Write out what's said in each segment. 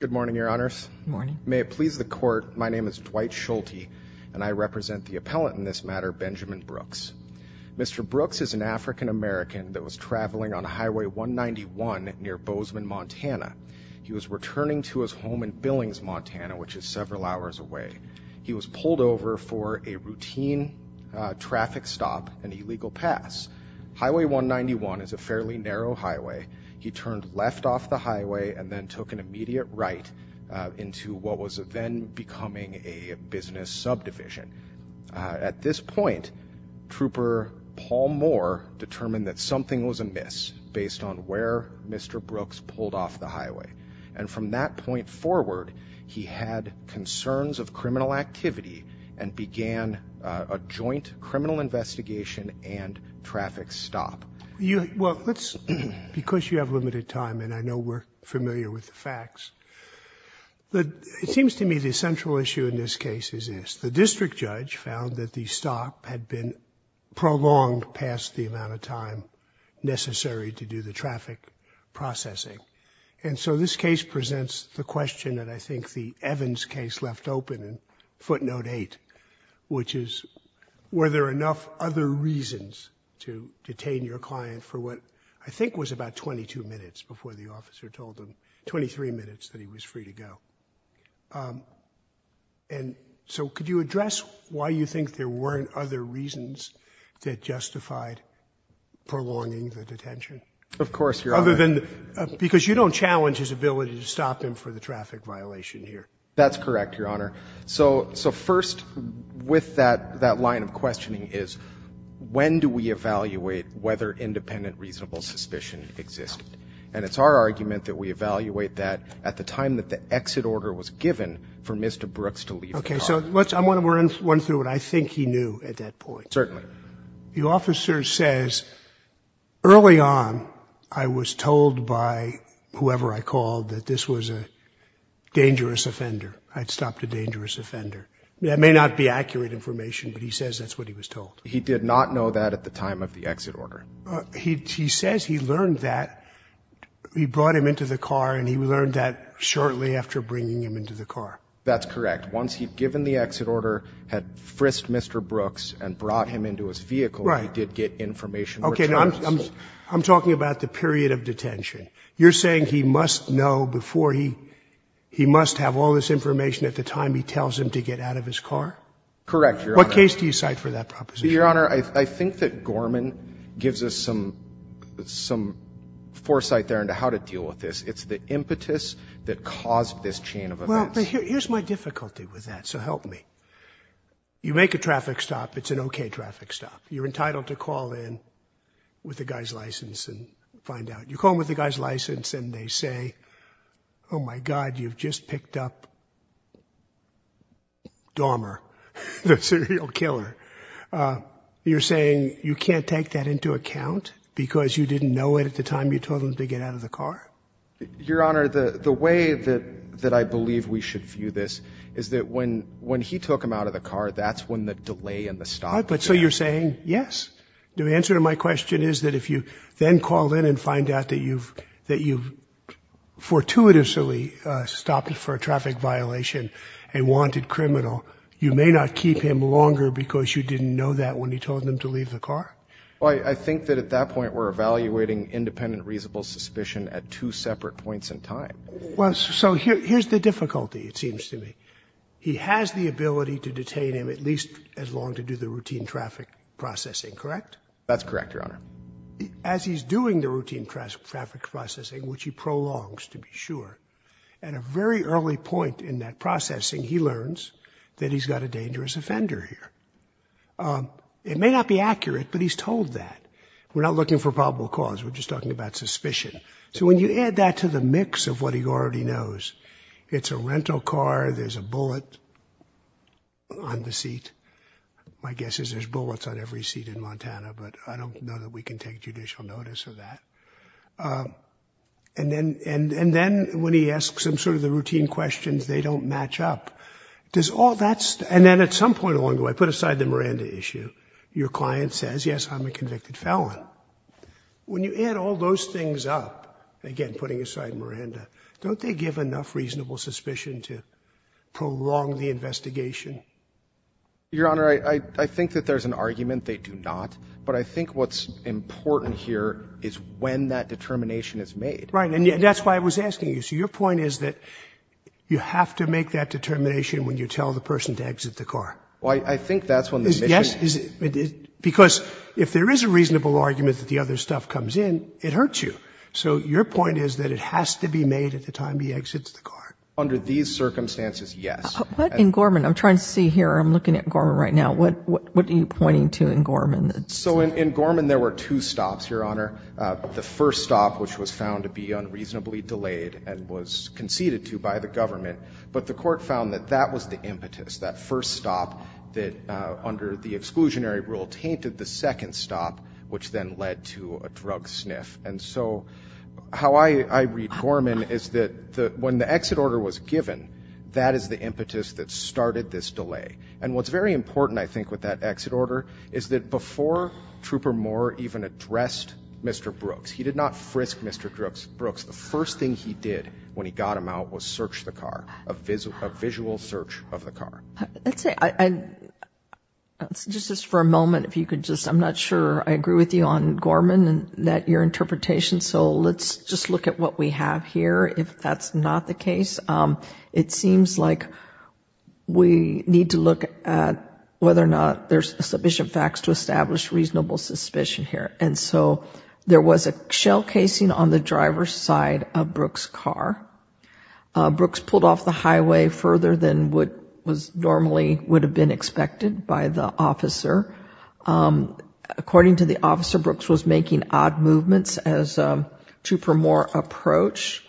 Good morning, your honors. May it please the court, my name is Dwight Schulte, and I represent the appellant in this matter, Benjamin Brooks. Mr. Brooks is an African American that was traveling on Highway 191 near Bozeman, Montana. He was returning to his home in Billings, Montana, which is several hours away. He was pulled over for a routine traffic stop, an illegal pass. Highway 191 is a fairly narrow highway. He turned left off the highway and then took an immediate right into what was then becoming a business subdivision. At this point, Trooper Paul Moore determined that something was amiss based on where Mr. Brooks pulled off the highway. And from that point forward, he had concerns of criminal activity and began a joint criminal investigation and traffic stop. Well, let's, because you have limited time, and I know we're familiar with the facts, it seems to me the central issue in this case is this. The district judge found that the stop had been prolonged past the amount of time necessary to do the traffic processing. And so this case presents the question that I think the Evans case left open in footnote eight, which is, were there enough other reasons to detain your client for what I think was about 22 minutes before the officer told him, 23 minutes that he was free to go? And so could you address why you think there weren't other reasons that justified prolonging the detention? Of course, Your Honor. Other than, because you don't challenge his ability to stop him for the traffic violation here. That's correct, Your Honor. So, so first, with that, that line of questioning is, when do we evaluate whether independent reasonable suspicion existed? And it's our argument that we evaluate that at the time that the exit order was given for Mr. Brooks to leave the car. Okay. So let's, I want to run through it. I think he knew at that point. Certainly. The officer says early on, I was told by whoever I called that this was a dangerous offender. I'd stopped a dangerous offender. That may not be accurate information, but he says that's what he was told. He did not know that at the time of the exit order. He says he learned that he brought him into the car and he learned that shortly after bringing him into the car. That's correct. Once he'd given the exit order, had frisked Mr. Brooks and brought him into his vehicle, he did get information which was useful. Okay. Now, I'm talking about the period of detention. You're saying he must know before he, he must have all this information at the time he tells him to get out of his car? Correct, Your Honor. What case do you cite for that proposition? Your Honor, I think that Gorman gives us some, some foresight there into how to deal with this. It's the impetus that caused this chain of events. Well, but here's my difficulty with that, so help me. You make a traffic stop, it's an okay traffic stop. You're entitled to call in with the guy's license and find out. You call in with the guy's license and they say, oh my God, you've just picked up Dormer. That's a real killer. You're saying you can't take that into account because you didn't know it at the time you told him to get out of the car? Your Honor, the, the way that, that I believe we should view this is that when, when he took him out of the car, that's when the delay and the stop. But so you're saying, yes. The answer to my question is that if you then call in and find out that you've, that you've fortuitously stopped for a traffic violation, a wanted criminal, you may not keep him longer because you didn't know that when he told him to leave the car? Well, I, I think that at that point we're evaluating independent reasonable suspicion at two separate points in time. Well, so here, here's the difficulty, it seems to me. He has the ability to detain him at least as long to do the routine traffic processing, correct? That's correct, Your Honor. As he's doing the routine traffic processing, which he prolongs to be sure, at a very early point in that processing, he learns that he's got a dangerous offender here. It may not be accurate, but he's told that. We're not looking for probable cause. We're just talking about suspicion. So when you add that to the mix of what he already knows, it's a rental car. There's a bullet on the seat. My guess is there's bullets on every seat in Montana, but I don't know that we can take judicial notice of that. And then, and, and then when he asks him sort of the routine questions, they don't match up. Does all that, and then at some point along the way, put aside the Miranda issue, your client says, yes, I'm a convicted felon. When you add all those things up, again, putting aside Miranda, don't they give enough reasonable suspicion to prolong the investigation? Your Honor, I, I think that there's an argument they do not, but I think what's important here is when that determination is made. Right. And that's why I was asking you. So your point is that you have to make that determination when you tell the person to exit the car. Well, I, I think that's when the mission. Because if there is a reasonable argument that the other stuff comes in, it hurts you. So your point is that it has to be made at the time he exits the car. Under these circumstances, yes. But in Gorman, I'm trying to see here, I'm looking at Gorman right now. What, what, what are you pointing to in Gorman? So in, in Gorman, there were two stops, Your Honor. The first stop, which was found to be unreasonably delayed and was conceded to by the government, but the court found that that was the impetus, that first stop that under the exclusionary rule tainted the second stop, which then led to a drug sniff. And so how I, I read Gorman is that the, when the exit order was given, that is the impetus that started this delay. And what's very important, I think, with that exit order is that before Trooper Moore even addressed Mr. Brooks, he did not frisk Mr. Brooks. Brooks. The first thing he did when he got him out was search the car, a visual, a visual search of the car. I'd say, I, I, just for a moment, if you could just, I'm not sure I agree with you on Gorman and that your interpretation. So let's just look at what we have here. If that's not the case, it seems like we need to look at whether or not there's sufficient facts to establish reasonable suspicion here. And so there was a shell casing on the driver's side of Brooks' car. Brooks pulled off the highway further than what was normally, would have been expected by the officer. According to the officer, Brooks was making odd movements as Trooper Moore approached.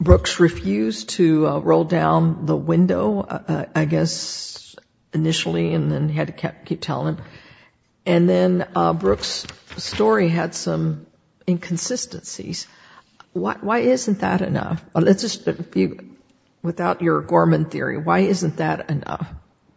Brooks refused to roll down the window, I guess, initially, and then he had to keep telling him. And then Brooks' story had some inconsistencies. Why, why isn't that enough? Well, let's just, without your Gorman theory, why isn't that enough?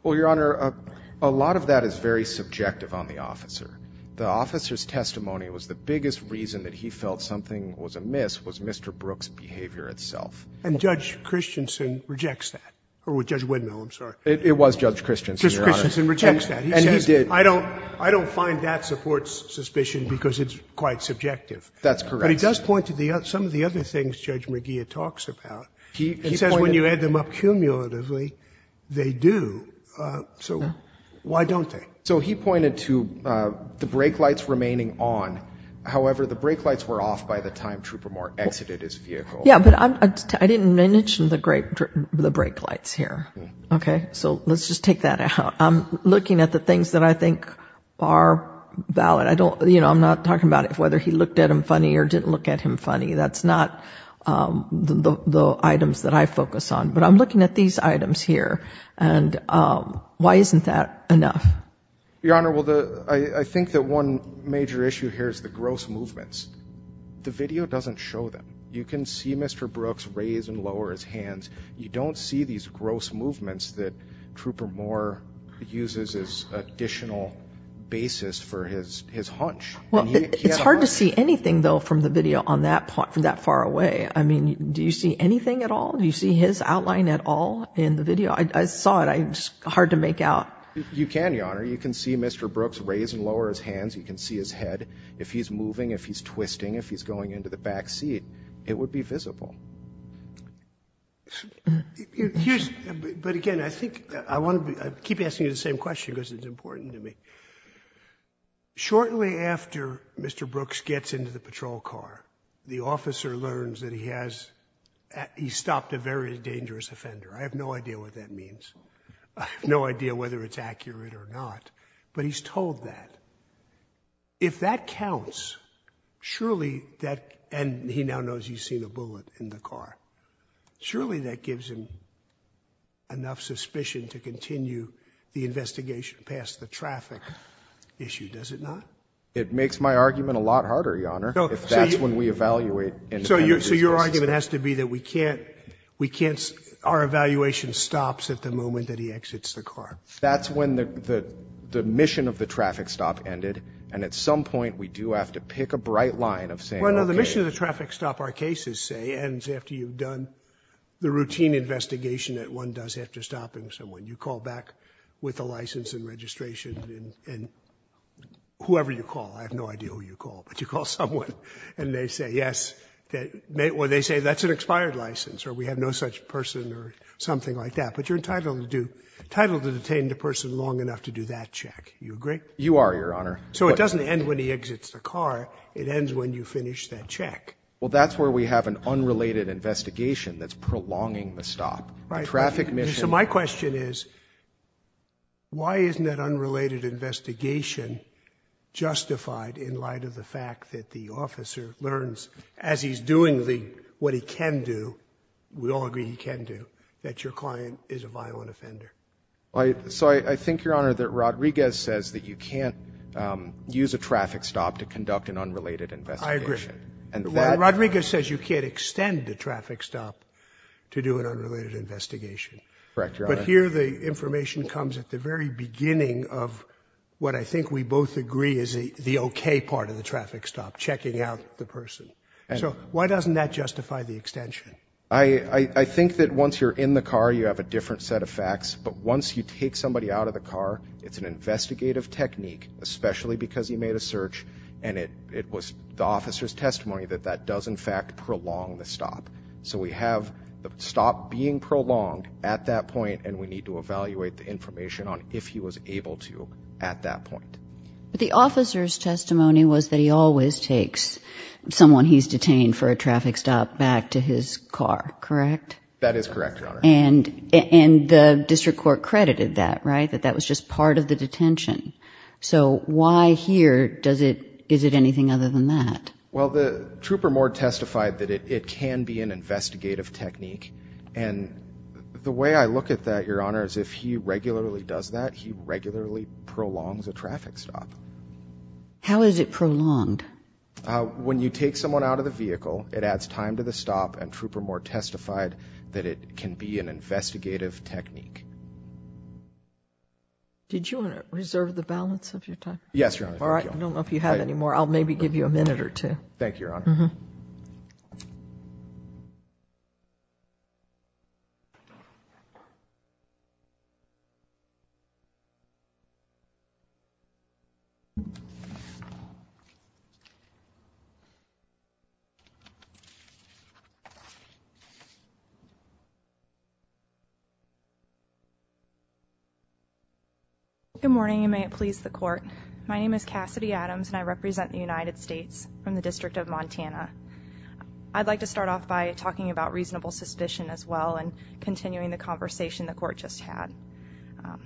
Well, Your Honor, a lot of that is very subjective on the officer. The officer's testimony was the biggest reason that he felt something was amiss was Mr. Brooks' behavior itself. And Judge Christensen rejects that. Or Judge Widnall, I'm sorry. It was Judge Christensen, Your Honor. Judge Christensen rejects that. He says, I don't, I don't find that supports suspicion because it's quite subjective. That's correct. But he does point to the, some of the other things Judge McGeer talks about. He says when you add them up cumulatively, they do. So why don't they? So he pointed to the brake lights remaining on. However, the brake lights were off by the time Trooper Moore exited his vehicle. Yeah, but I didn't mention the brake lights here. Okay. So let's just take that out. I'm looking at the things that I think are valid. I don't, you know, I'm not talking about whether he looked at them funny or didn't look at him funny. That's not the items that I focus on, but I'm looking at these items here. And why isn't that enough? Your Honor, well, the, I think that one major issue here is the gross movements. The video doesn't show them. You can see Mr. Brooks raise and lower his hands. You don't see these gross movements that Trooper Moore uses as additional basis for his, his hunch. Well, it's hard to see anything though, from the video on that part, from that far away, I mean, do you see anything at all? Do you see his outline at all in the video? I saw it. I just, hard to make out. You can, Your Honor. You can see Mr. Brooks raise and lower his hands. You can see his head. If he's moving, if he's twisting, if he's going into the back seat, it would be visible. But again, I think I want to be, I keep asking you the same question because it's important to me. Shortly after Mr. Brooks gets into the patrol car, the officer learns that he has, he stopped a very dangerous offender. I have no idea what that means. I have no idea whether it's accurate or not, but he's told that. If that counts, surely that, and he now knows he's seen a bullet in the car. Surely that gives him enough suspicion to continue the investigation past the traffic issue, does it not? It makes my argument a lot harder, Your Honor, if that's when we evaluate. So your, so your argument has to be that we can't, we can't, our evaluation stops at the moment that he exits the car. That's when the, the, the mission of the traffic stop ended. And at some point we do have to pick a bright line of saying. Well, no, the mission of the traffic stop, our cases say, ends after you've done the routine investigation that one does have to stop and someone you call back with a license and registration and, and whoever you call, I have no idea who you call, but you call someone and they say, yes, that may, or they say that's an expired license or we have no such person or something like that, but you're entitled to do, entitled to detain the person long enough to do that check. You agree? You are, Your Honor. So it doesn't end when he exits the car. It ends when you finish that check. Well, that's where we have an unrelated investigation that's prolonging the stop, the traffic mission. So my question is why isn't that unrelated investigation justified in light of the fact that the officer learns as he's doing the, what he can do, we all agree he can do, that your client is a violent offender. I, so I think, Your Honor, that Rodriguez says that you can't, um, use a traffic stop to conduct an unrelated investigation. And Rodriguez says you can't extend the traffic stop to do an unrelated investigation. Correct, Your Honor. But here, the information comes at the very beginning of what I think we both agree is the, the okay part of the traffic stop, checking out the person. So why doesn't that justify the extension? I, I think that once you're in the car, you have a different set of facts, but once you take somebody out of the car, it's an investigative technique, especially because he made a search and it, it was the officer's testimony that that does in fact prolong the stop. So we have the stop being prolonged at that point, and we need to evaluate the information on if he was able to at that point. But the officer's testimony was that he always takes someone he's detained for a traffic stop back to his car, correct? That is correct, Your Honor. And, and the district court credited that, right? That that was just part of the detention. So why here does it, is it anything other than that? Well, the trooper Moore testified that it can be an investigative technique. And the way I look at that, Your Honor, is if he regularly does that, he regularly prolongs a traffic stop. How is it prolonged? Uh, when you take someone out of the vehicle, it adds time to the stop and trooper Moore testified that it can be an investigative technique. Did you want to reserve the balance of your time? Yes, Your Honor. All right. I don't know if you have any more. I'll maybe give you a minute or two. Thank you, Your Honor. Good morning, and may it please the court. My name is Cassidy Adams and I represent the United States from the district of Montana. I'd like to start off by talking about reasonable suspicion as well, and continuing the conversation the court just had, um,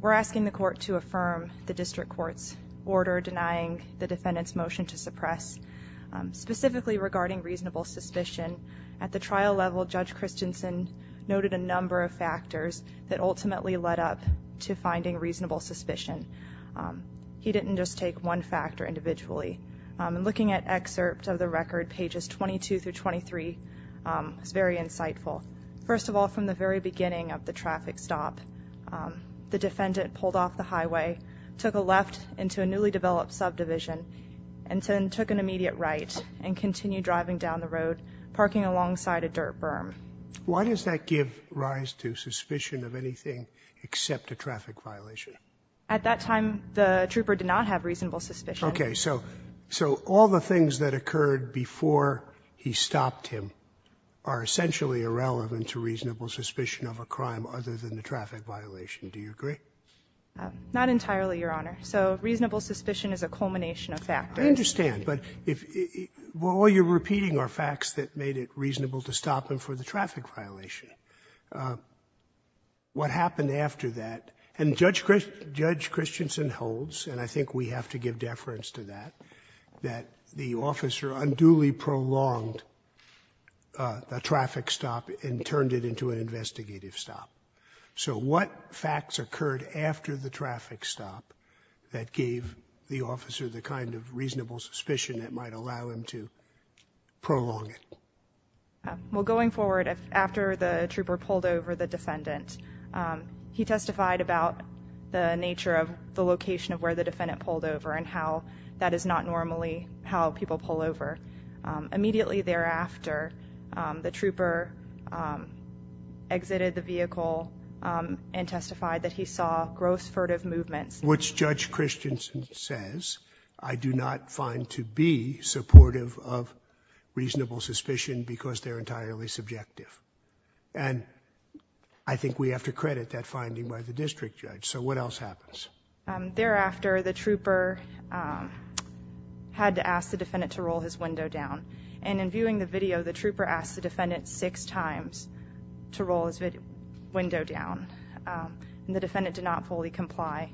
we're asking the court to affirm the district court's order, denying the defendant's motion to suppress. Um, specifically regarding reasonable suspicion at the trial level, Judge Christensen noted a number of factors that ultimately led up to finding reasonable suspicion. Um, he didn't just take one factor individually. I'm looking at excerpt of the record pages 22 through 23. Um, it's very insightful. First of all, from the very beginning of the traffic stop, um, the defendant pulled off the highway, took a left into a newly developed subdivision and took an immediate right and continue driving down the road, parking alongside a dirt berm. Why does that give rise to suspicion of anything except a traffic violation? At that time, the trooper did not have reasonable suspicion. Okay. So, so all the things that occurred before he stopped him are essentially irrelevant to reasonable suspicion of a crime other than the traffic violation. Do you agree? Um, not entirely, Your Honor. So reasonable suspicion is a culmination of factors. I understand, but if, well, all you're repeating are facts that made it reasonable to stop him for the traffic violation. Uh, what happened after that? And Judge Christ, Judge Christensen holds, and I think we have to give deference to that, that the officer unduly prolonged, uh, the traffic stop and turned it into an investigative stop. So what facts occurred after the traffic stop that gave the officer the kind of reasonable suspicion that might allow him to prolong it? Well, going forward, after the trooper pulled over the defendant, um, he testified about the nature of the location of where the defendant pulled over and how that is not normally how people pull over. Um, immediately thereafter, um, the trooper, um, exited the vehicle, um, and testified that he saw gross furtive movements. Which Judge Christensen says, I do not find to be supportive of reasonable suspicion because they're entirely subjective, and I think we have to credit that finding by the district judge. So what else happens? Um, thereafter the trooper, um, had to ask the defendant to roll his window down. And in viewing the video, the trooper asked the defendant six times to roll his window down. Um, and the defendant did not fully comply,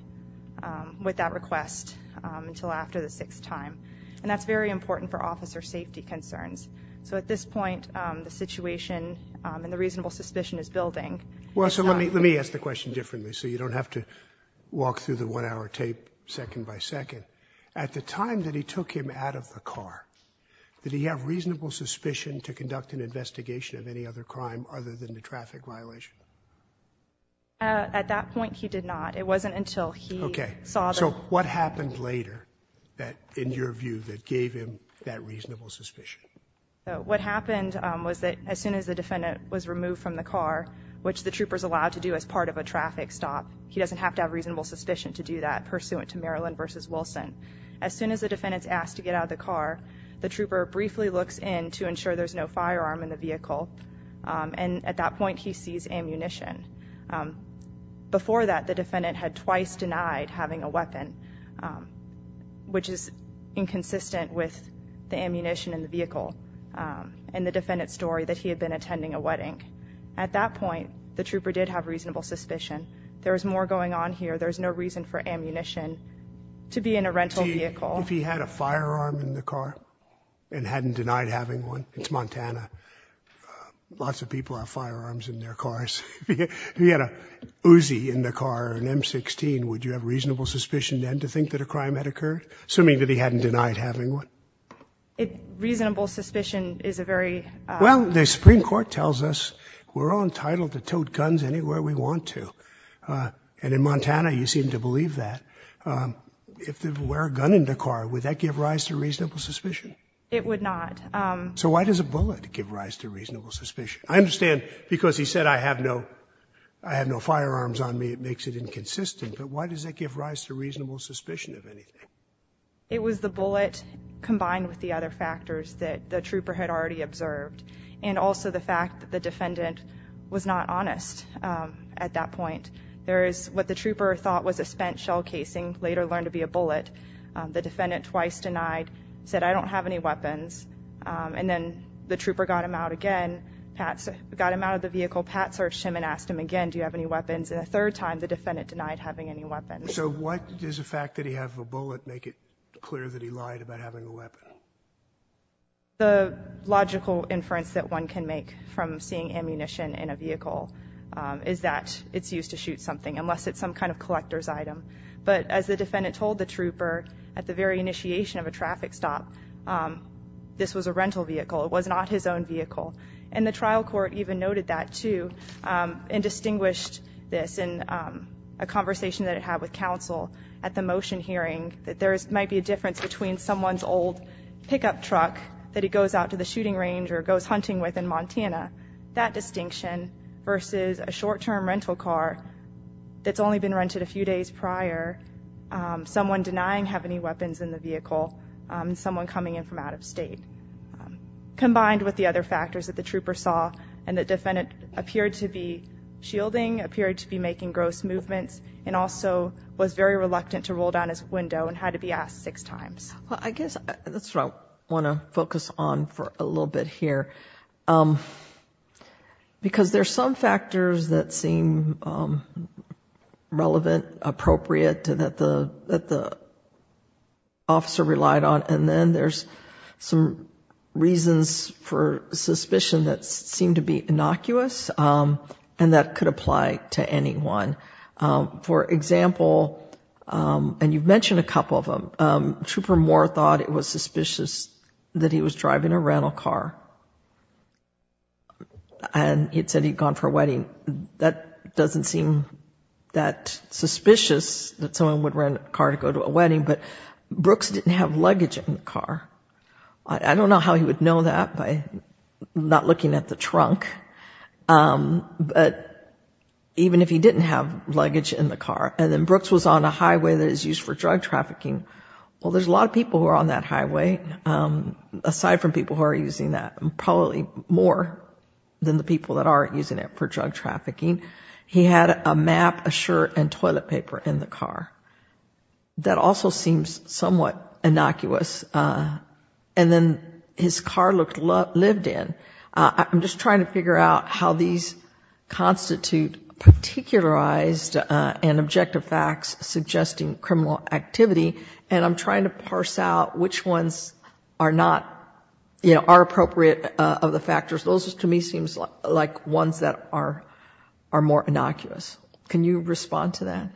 um, with that request, um, until after the sixth time. And that's very important for officer safety concerns. So at this point, um, the situation, um, and the reasonable suspicion is building. Well, so let me, let me ask the question differently. So you don't have to walk through the one hour tape second by second. At the time that he took him out of the car, did he have reasonable suspicion to conduct an investigation of any other crime other than the traffic violation? Uh, at that point he did not. It wasn't until he saw... So what happened later that, in your view, that gave him that reasonable suspicion? So what happened, um, was that as soon as the defendant was removed from the car, which the troopers allowed to do as part of a traffic stop, he doesn't have to have reasonable suspicion to do that pursuant to Maryland versus Wilson. As soon as the defendant's asked to get out of the car, the trooper briefly looks in to ensure there's no firearm in the vehicle, um, and at that point he sees ammunition. Um, before that, the defendant had twice denied having a weapon, um, which is inconsistent with the ammunition in the vehicle. Um, and the defendant's story that he had been attending a wedding. At that point, the trooper did have reasonable suspicion. There was more going on here. There's no reason for ammunition to be in a rental vehicle. If he had a firearm in the car and hadn't denied having one, it's Montana. Uh, lots of people have firearms in their cars. If he had a Uzi in the car, an M16, would you have reasonable suspicion then to think that a crime had occurred, assuming that he hadn't denied having one? It, reasonable suspicion is a very, uh. Well, the Supreme Court tells us we're all entitled to towed guns anywhere we want to. Uh, and in Montana, you seem to believe that. Um, if there were a gun in the car, would that give rise to reasonable suspicion? It would not. Um, so why does a bullet give rise to reasonable suspicion? I understand because he said, I have no, I have no firearms on me. It makes it inconsistent. But why does it give rise to reasonable suspicion of anything? It was the bullet combined with the other factors that the trooper had already observed. And also the fact that the defendant was not honest. Um, at that point, there is what the trooper thought was a spent shell casing later learned to be a bullet. Um, the defendant twice denied, said, I don't have any weapons. Um, and then the trooper got him out again. Pat's got him out of the vehicle. Pat searched him and asked him again, do you have any weapons? And a third time, the defendant denied having any weapons. So what does the fact that he has a bullet, make it clear that he lied about having a weapon? The logical inference that one can make from seeing ammunition in a vehicle, um, is that it's used to shoot something unless it's some kind of collector's item. But as the defendant told the trooper at the very initiation of a traffic stop, um, this was a rental vehicle. It was not his own vehicle. And the trial court even noted that too, um, and distinguished this in, um, a conversation that it had with counsel at the motion hearing that there's might be a difference between someone's old pickup truck that it goes out to the shooting range or goes hunting with in Montana, that distinction versus a short-term rental car that's only been rented a few days prior, um, someone denying have any weapons in the vehicle. Um, someone coming in from out of state, um, combined with the other factors that the trooper saw and the defendant appeared to be shielding appeared to be making gross movements and also was very reluctant to roll down his window and had to be asked six times. Well, I guess that's what I want to focus on for a little bit here. Um, because there's some factors that seem, um, relevant, appropriate to that, the, that the officer relied on. And then there's some reasons for suspicion that seem to be innocuous. Um, and that could apply to anyone. Um, for example, um, and you've mentioned a couple of them, um, trooper Moore thought it was suspicious that he was driving a rental car and he'd said he'd gone for a wedding. That doesn't seem that suspicious that someone would rent a car to go to a wedding, but Brooks didn't have luggage in the car. I don't know how he would know that by not looking at the trunk. Um, but even if he didn't have luggage in the car and then Brooks was on a highway that is used for drug trafficking, well, there's a lot of people who are on that highway, um, aside from people who are using that, probably more than the people that aren't using it for drug trafficking, he had a map, a shirt and toilet paper in the car. That also seems somewhat innocuous. Uh, and then his car looked, lived in. Uh, I'm just trying to figure out how these constitute particularized, uh, and objective facts suggesting criminal activity, and I'm trying to parse out which ones are not, you know, are appropriate, uh, of the factors. Those to me seems like ones that are, are more innocuous. Can you respond to that?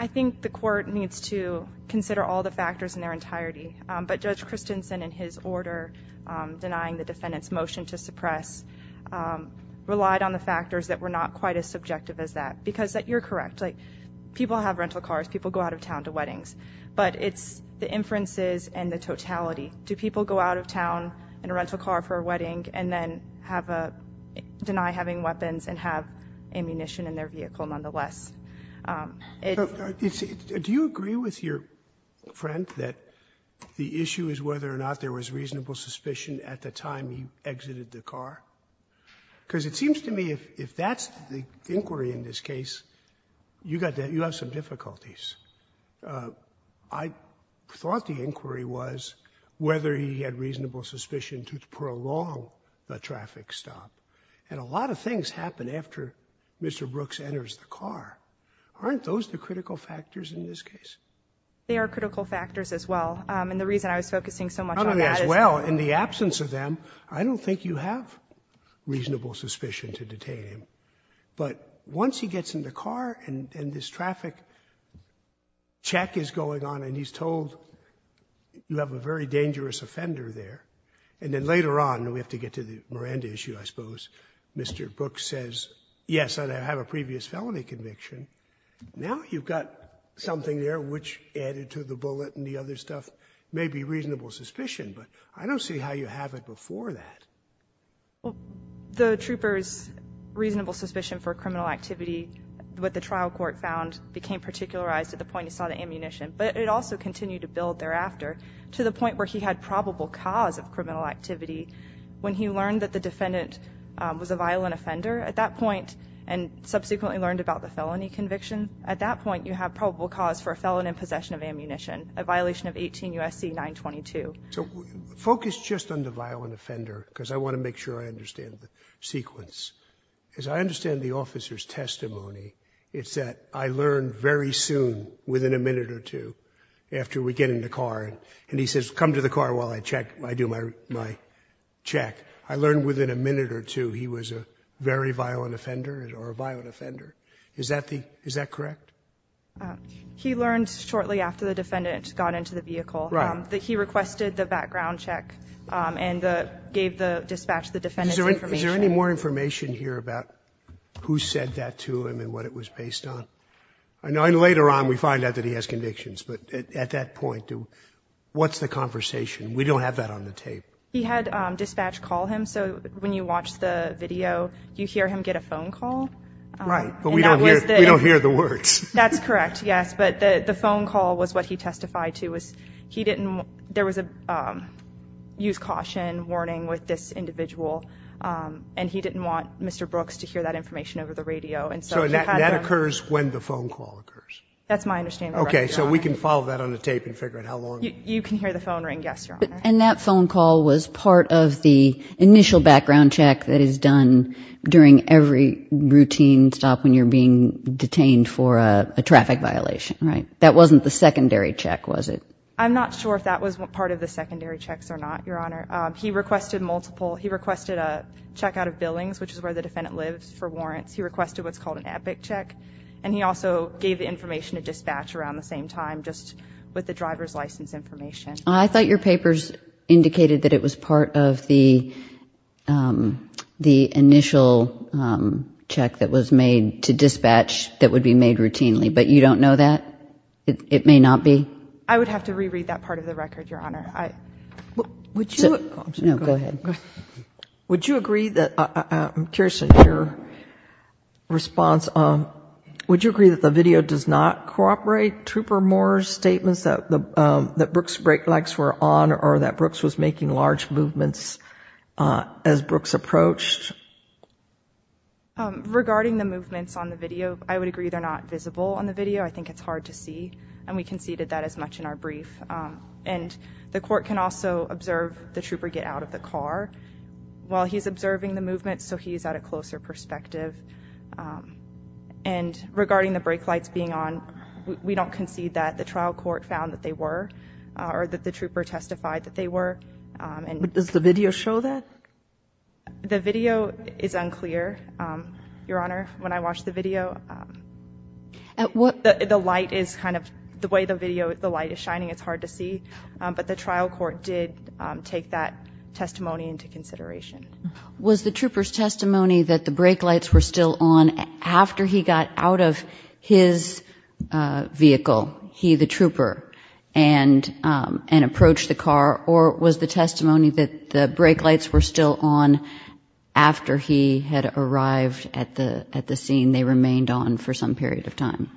I think the court needs to consider all the factors in their entirety. Um, but judge Christensen and his order, um, denying the defendant's motion to suppress, um, relied on the factors that were not quite as subjective as that because that you're correct. Like people have rental cars, people go out of town to weddings, but it's the inferences and the totality. Do people go out of town in a rental car for a wedding and then have a deny having weapons and have ammunition in their vehicle nonetheless? Um, do you agree with your friend that the issue is whether or not there was reasonable suspicion at the time he exited the car? Cause it seems to me if, if that's the inquiry in this case, you got that, you have some difficulties. Uh, I thought the inquiry was whether he had reasonable suspicion to prolong the traffic stop. And a lot of things happen after Mr. Brooks enters the car. Aren't those the critical factors in this case? They are critical factors as well. Um, and the reason I was focusing so much on that as well, in the absence of them, I don't think you have reasonable suspicion to detain him, but once he gets in the car and this traffic check is going on and he's told you have a very dangerous offender there. And then later on, we have to get to the Miranda issue, I suppose. Mr. Brooks says, yes, I have a previous felony conviction. Now you've got something there, which added to the bullet and the other stuff may be reasonable suspicion, but I don't see how you have it before that. Well, the troopers reasonable suspicion for criminal activity, what the trial court found became particularized at the point you saw the ammunition, but it also continued to build thereafter to the point where he had probable cause of criminal activity when he learned that the defendant was a violent offender at that point and subsequently learned about the felony conviction. At that point, you have probable cause for a felon in possession of ammunition, a violation of 18 USC 922. So focus just on the violent offender, because I want to make sure I understand the sequence. As I understand the officer's testimony, it's that I learned very soon within a minute after we get in the car and he says, come to the car while I check, I do my, my check. I learned within a minute or two, he was a very violent offender or a violent offender. Is that the, is that correct? He learned shortly after the defendant got into the vehicle, that he requested the background check and the gave the dispatch, the defendant. Is there any more information here about who said that to him and what it was based on? I know later on, we find out that he has convictions, but at that point, what's the conversation? We don't have that on the tape. He had a dispatch call him. So when you watch the video, you hear him get a phone call, right? But we don't hear, we don't hear the words. That's correct. Yes. But the, the phone call was what he testified to was he didn't, there was a use caution warning with this individual. And he didn't want Mr. Brooks to hear that information over the radio. And so that occurs when the phone call occurs. That's my understanding. Okay. So we can follow that on the tape and figure out how long you can hear the phone ring. Yes. And that phone call was part of the initial background check that is done during every routine stop. When you're being detained for a traffic violation, right? That wasn't the secondary check. Was it? I'm not sure if that was part of the secondary checks or not. Your honor. He requested multiple, he requested a checkout of billings, which is where the defendant lives for warrants. He requested what's called an epic check. And he also gave the information to dispatch around the same time, just with the driver's license information. I thought your papers indicated that it was part of the, um, the initial, um, check that was made to dispatch that would be made routinely. But you don't know that it may not be. I would have to reread that part of the record. Your honor. I, would you, no, go ahead. Would you agree that, I'm curious in your response, um, would you agree that the video does not cooperate Trooper Moore's statements that the, um, that Brooks' brake lights were on or that Brooks was making large movements, uh, as Brooks approached? Um, regarding the movements on the video, I would agree they're not visible on the video. I think it's hard to see. And we conceded that as much in our brief. Um, and the court can also observe the Trooper get out of the car while he's observing the movement. So he's at a closer perspective. Um, and regarding the brake lights being on, we don't concede that the trial court found that they were, uh, or that the Trooper testified that they were, um, and what does the video show that? The video is unclear. Um, your honor, when I watched the video, um, at what the light is kind of the way the video, the light is shining, it's hard to see. Um, but the trial court did, um, take that testimony into consideration. Was the Trooper's testimony that the brake lights were still on after he got out of his, uh, vehicle, he, the Trooper and, um, and approached the car or was the testimony that the brake lights were still on after he had arrived at the, at the scene, they remained on for some period of time.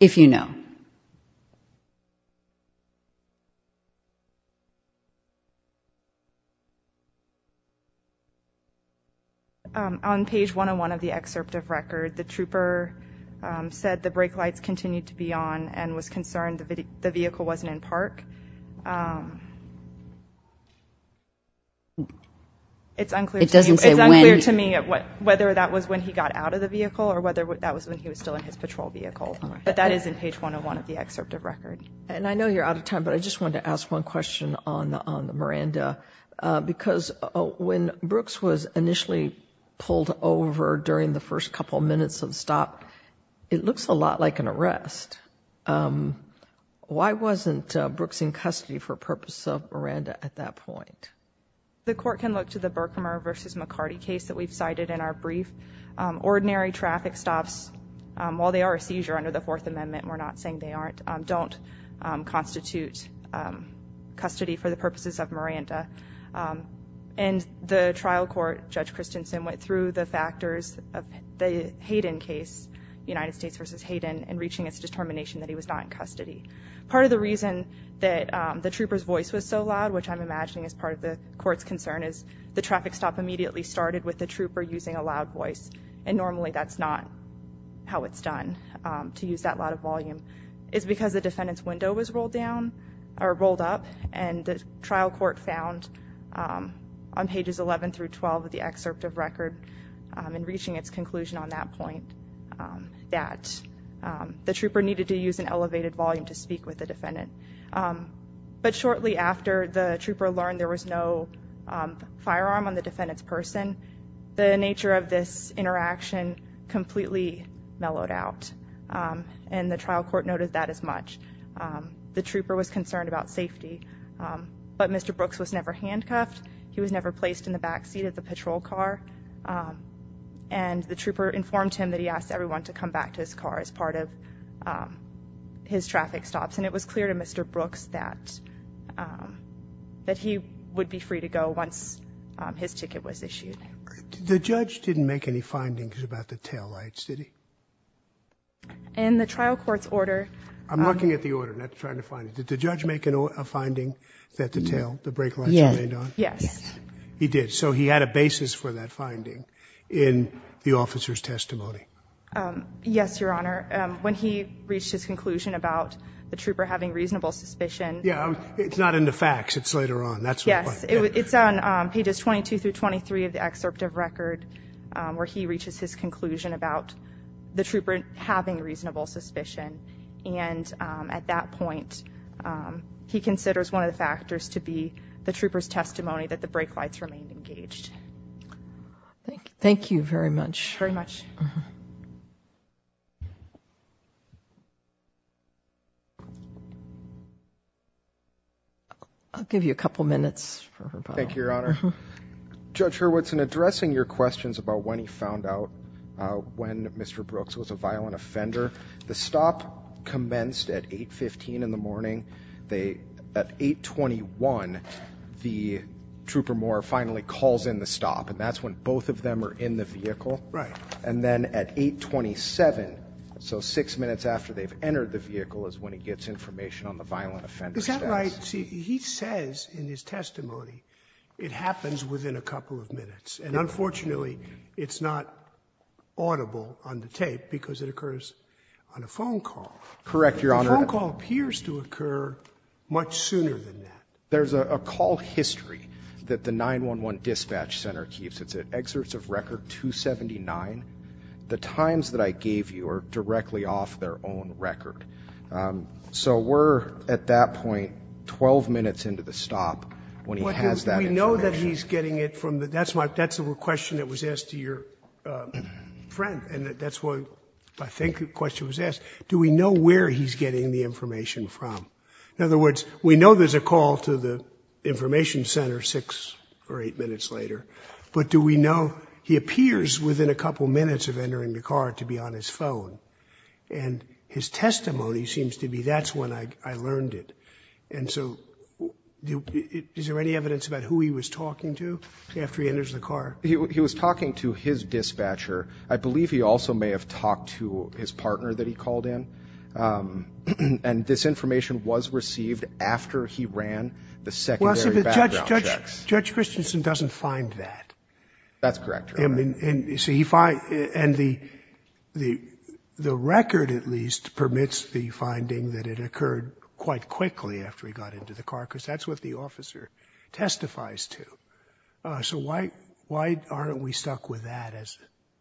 If you know. Okay. Um, on page one on one of the excerpt of record, the Trooper, um, said the brake lights continued to be on and was concerned that the vehicle wasn't in park. Um, it's unclear to me whether that was when he got out of the vehicle or whether that was when he was still in his patrol vehicle, but that is in page one on one of the excerpt of record. And I know you're out of time, but I just wanted to ask one question on, on the Miranda, uh, because when Brooks was initially pulled over during the first couple of minutes of stop, it looks a lot like an arrest. Um, why wasn't a Brooks in custody for purpose of Miranda at that point? The court can look to the Berkmer versus McCarty case that we've cited in our brief, um, ordinary traffic stops, um, while they are a seizure under the fourth don't, um, constitute, um, custody for the purposes of Miranda. Um, and the trial court judge Christensen went through the factors of the Hayden case, United States versus Hayden and reaching its determination that he was not in custody. Part of the reason that, um, the Trooper's voice was so loud, which I'm imagining as part of the court's concern is the traffic stop immediately started with the Trooper using a loud voice. And normally that's not how it's done, um, to use that lot of volume is because the defendant's window was rolled down or rolled up and the trial court found, um, on pages 11 through 12 of the excerpt of record, um, and reaching its conclusion on that point, um, that, um, the Trooper needed to use an elevated volume to speak with the defendant. Um, but shortly after the Trooper learned there was no, um, firearm on the completely mellowed out. Um, and the trial court noted that as much, um, the Trooper was concerned about safety, um, but Mr. Brooks was never handcuffed. He was never placed in the backseat of the patrol car. Um, and the Trooper informed him that he asked everyone to come back to his car as part of, um, his traffic stops. And it was clear to Mr. Brooks that, um, that he would be free to go once his ticket was issued. The judge didn't make any findings about the taillights, did he? In the trial court's order. I'm looking at the order, not trying to find it. Did the judge make a finding that the tail, the brake lights remained on? Yes, he did. So he had a basis for that finding in the officer's testimony. Um, yes, Your Honor. Um, when he reached his conclusion about the Trooper having reasonable suspicion. Yeah, it's not in the facts. It's later on. That's what it was. It's on, um, pages 22 through 23 of the excerpt of record, um, where he reaches his conclusion about the Trooper having reasonable suspicion. And, um, at that point, um, he considers one of the factors to be the Trooper's testimony that the brake lights remained engaged. Thank you very much. Very much. I'll give you a couple of minutes for her. Thank you, Your Honor. Judge Hurwitz, in addressing your questions about when he found out, uh, when Mr. Brooks was a violent offender, the stop commenced at 8 15 in the morning. They, at 8 21, the Trooper Moore finally calls in the stop and that's when both of them are in the vehicle. And at 8 27, so six minutes after they've entered the vehicle is when he gets information on the violent offender. Is that right? See, he says in his testimony, it happens within a couple of minutes and unfortunately it's not audible on the tape because it occurs on a phone call. Correct. Your Honor, the phone call appears to occur much sooner than that. There's a call history that the 911 dispatch center keeps. It's at excerpts of record 279. The times that I gave you are directly off their own record. Um, so we're at that point, 12 minutes into the stop when he has that. We know that he's getting it from the, that's my, that's the question that was asked to your, uh, friend. And that's what I think the question was asked. Do we know where he's getting the information from? In other words, we know there's a call to the information center six or eight minutes later, but do we know he appears within a couple of minutes of entering the car to be on his phone and his testimony seems to be, that's when I learned it. And so is there any evidence about who he was talking to after he enters the car? He was talking to his dispatcher. I believe he also may have talked to his partner that he called in. Um, and this information was received after he ran the secondary background checks. Judge Christensen doesn't find that. That's correct. I mean, and you see if I, and the, the, the record at least permits the finding that it occurred quite quickly after he got into the car, because that's what the officer testifies to. Uh, so why, why aren't we stuck with that as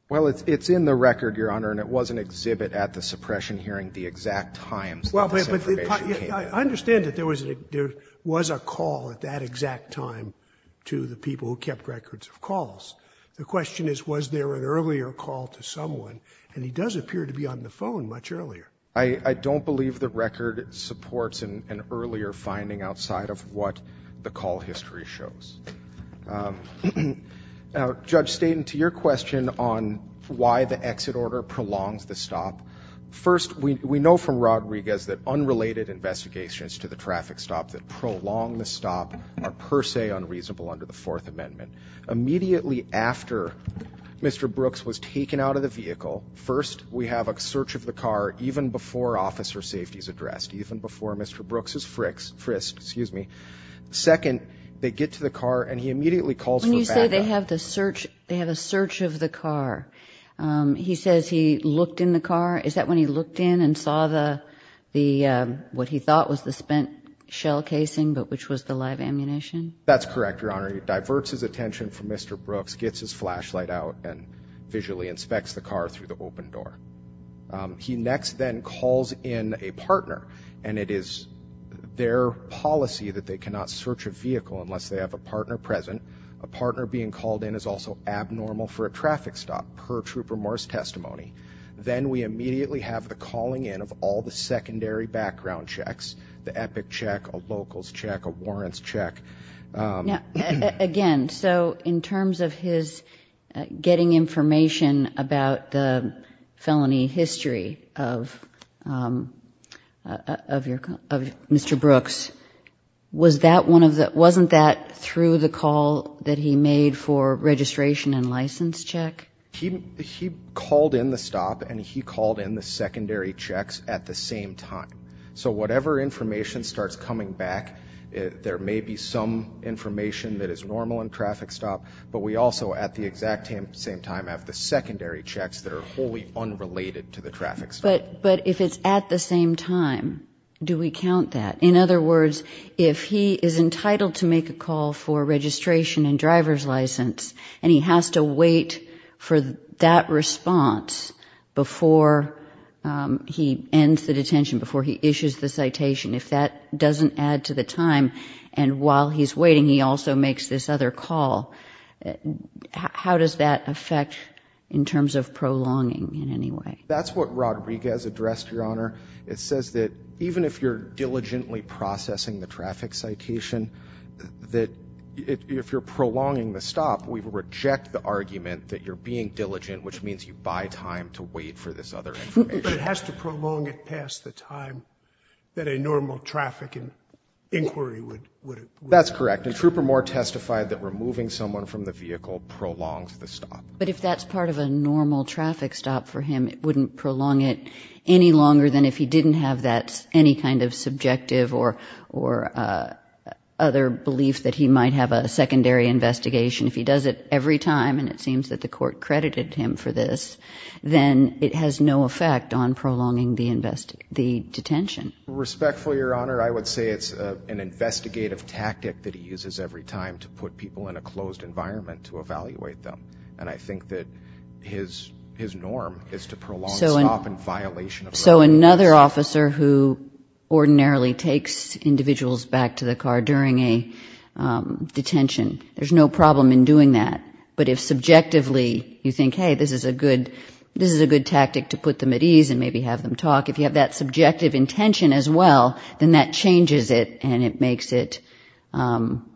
well? It's, it's in the record, Your Honor. And it was an exhibit at the suppression hearing, the exact times. Well, I understand that there was, there was a call at that exact time. To the people who kept records of calls. The question is, was there an earlier call to someone? And he does appear to be on the phone much earlier. I don't believe the record supports an earlier finding outside of what the call history shows. Um, now judge Staten to your question on why the exit order prolongs the stop. First, we know from Rodriguez that unrelated investigations to the traffic stop that prolong the stop are per se unreasonable under the fourth amendment. Immediately after Mr. Brooks was taken out of the vehicle. First, we have a search of the car, even before officer safety is addressed, even before Mr. Brooks is frisked, frisked, excuse me. Second, they get to the car and he immediately calls for backup. When you say they have the search, they have a search of the car. Um, he says he looked in the car. Is that when he looked in and saw the, the, um, what he thought was the spent shell casing, but which was the live ammunition? That's correct. Your Honor. He diverts his attention from Mr. Brooks, gets his flashlight out and visually inspects the car through the open door. Um, he next then calls in a partner and it is their policy that they cannot search a vehicle unless they have a partner present. A partner being called in is also abnormal for a traffic stop per troop remorse testimony. Then we immediately have the calling in of all the secondary background checks, the epic check, a local's check, a warrant's check. Um, again. So in terms of his getting information about the felony history of, um, uh, of your, of Mr. Brooks, was that one of the, wasn't that through the call that he made for registration and license check? He, he called in the stop and he called in the secondary checks at the same time. So whatever information starts coming back, there may be some information that is normal in traffic stop, but we also at the exact same time have the secondary checks that are wholly unrelated to the traffic stop. But if it's at the same time, do we count that? In other words, if he is entitled to make a call for registration and driver's license, and he has to wait for that response before, um, he ends the detention, before he issues the citation. If that doesn't add to the time. And while he's waiting, he also makes this other call. How does that affect in terms of prolonging in any way? That's what Rodriguez addressed, Your Honor. It says that even if you're diligently processing the traffic citation, that if you're prolonging the stop, we reject the argument that you're being diligent, which means you buy time to wait for this other information. But it has to prolong it past the time that a normal traffic inquiry would, would. That's correct. And Trooper Moore testified that removing someone from the vehicle prolongs the stop. But if that's part of a normal traffic stop for him, it wouldn't prolong it any longer than if he didn't have that any kind of subjective or, or, uh, other belief that he might have a secondary investigation if he does it every time. And it seems that the court credited him for this, then it has no effect on prolonging the invest, the detention. Respectfully, Your Honor. I would say it's an investigative tactic that he uses every time to put people in a closed environment to evaluate them. And I think that his, his norm is to prolong stop and violation. So another officer who ordinarily takes individuals back to the car during a, um, detention, there's no problem in doing that, but if subjectively you think, Hey, this is a good, this is a good tactic to put them at ease and maybe have them talk, if you have that subjective intention as well, then that changes it and it makes it, um,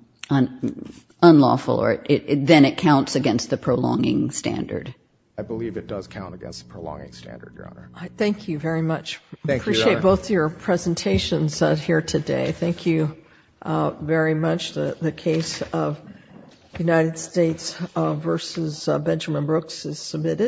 unlawful or it, it, then it counts against the prolonging standard. I believe it does count against the prolonging standard, Your Honor. Thank you very much. I appreciate both your presentations here today. Thank you very much. The case of United States versus Benjamin Brooks is submitted.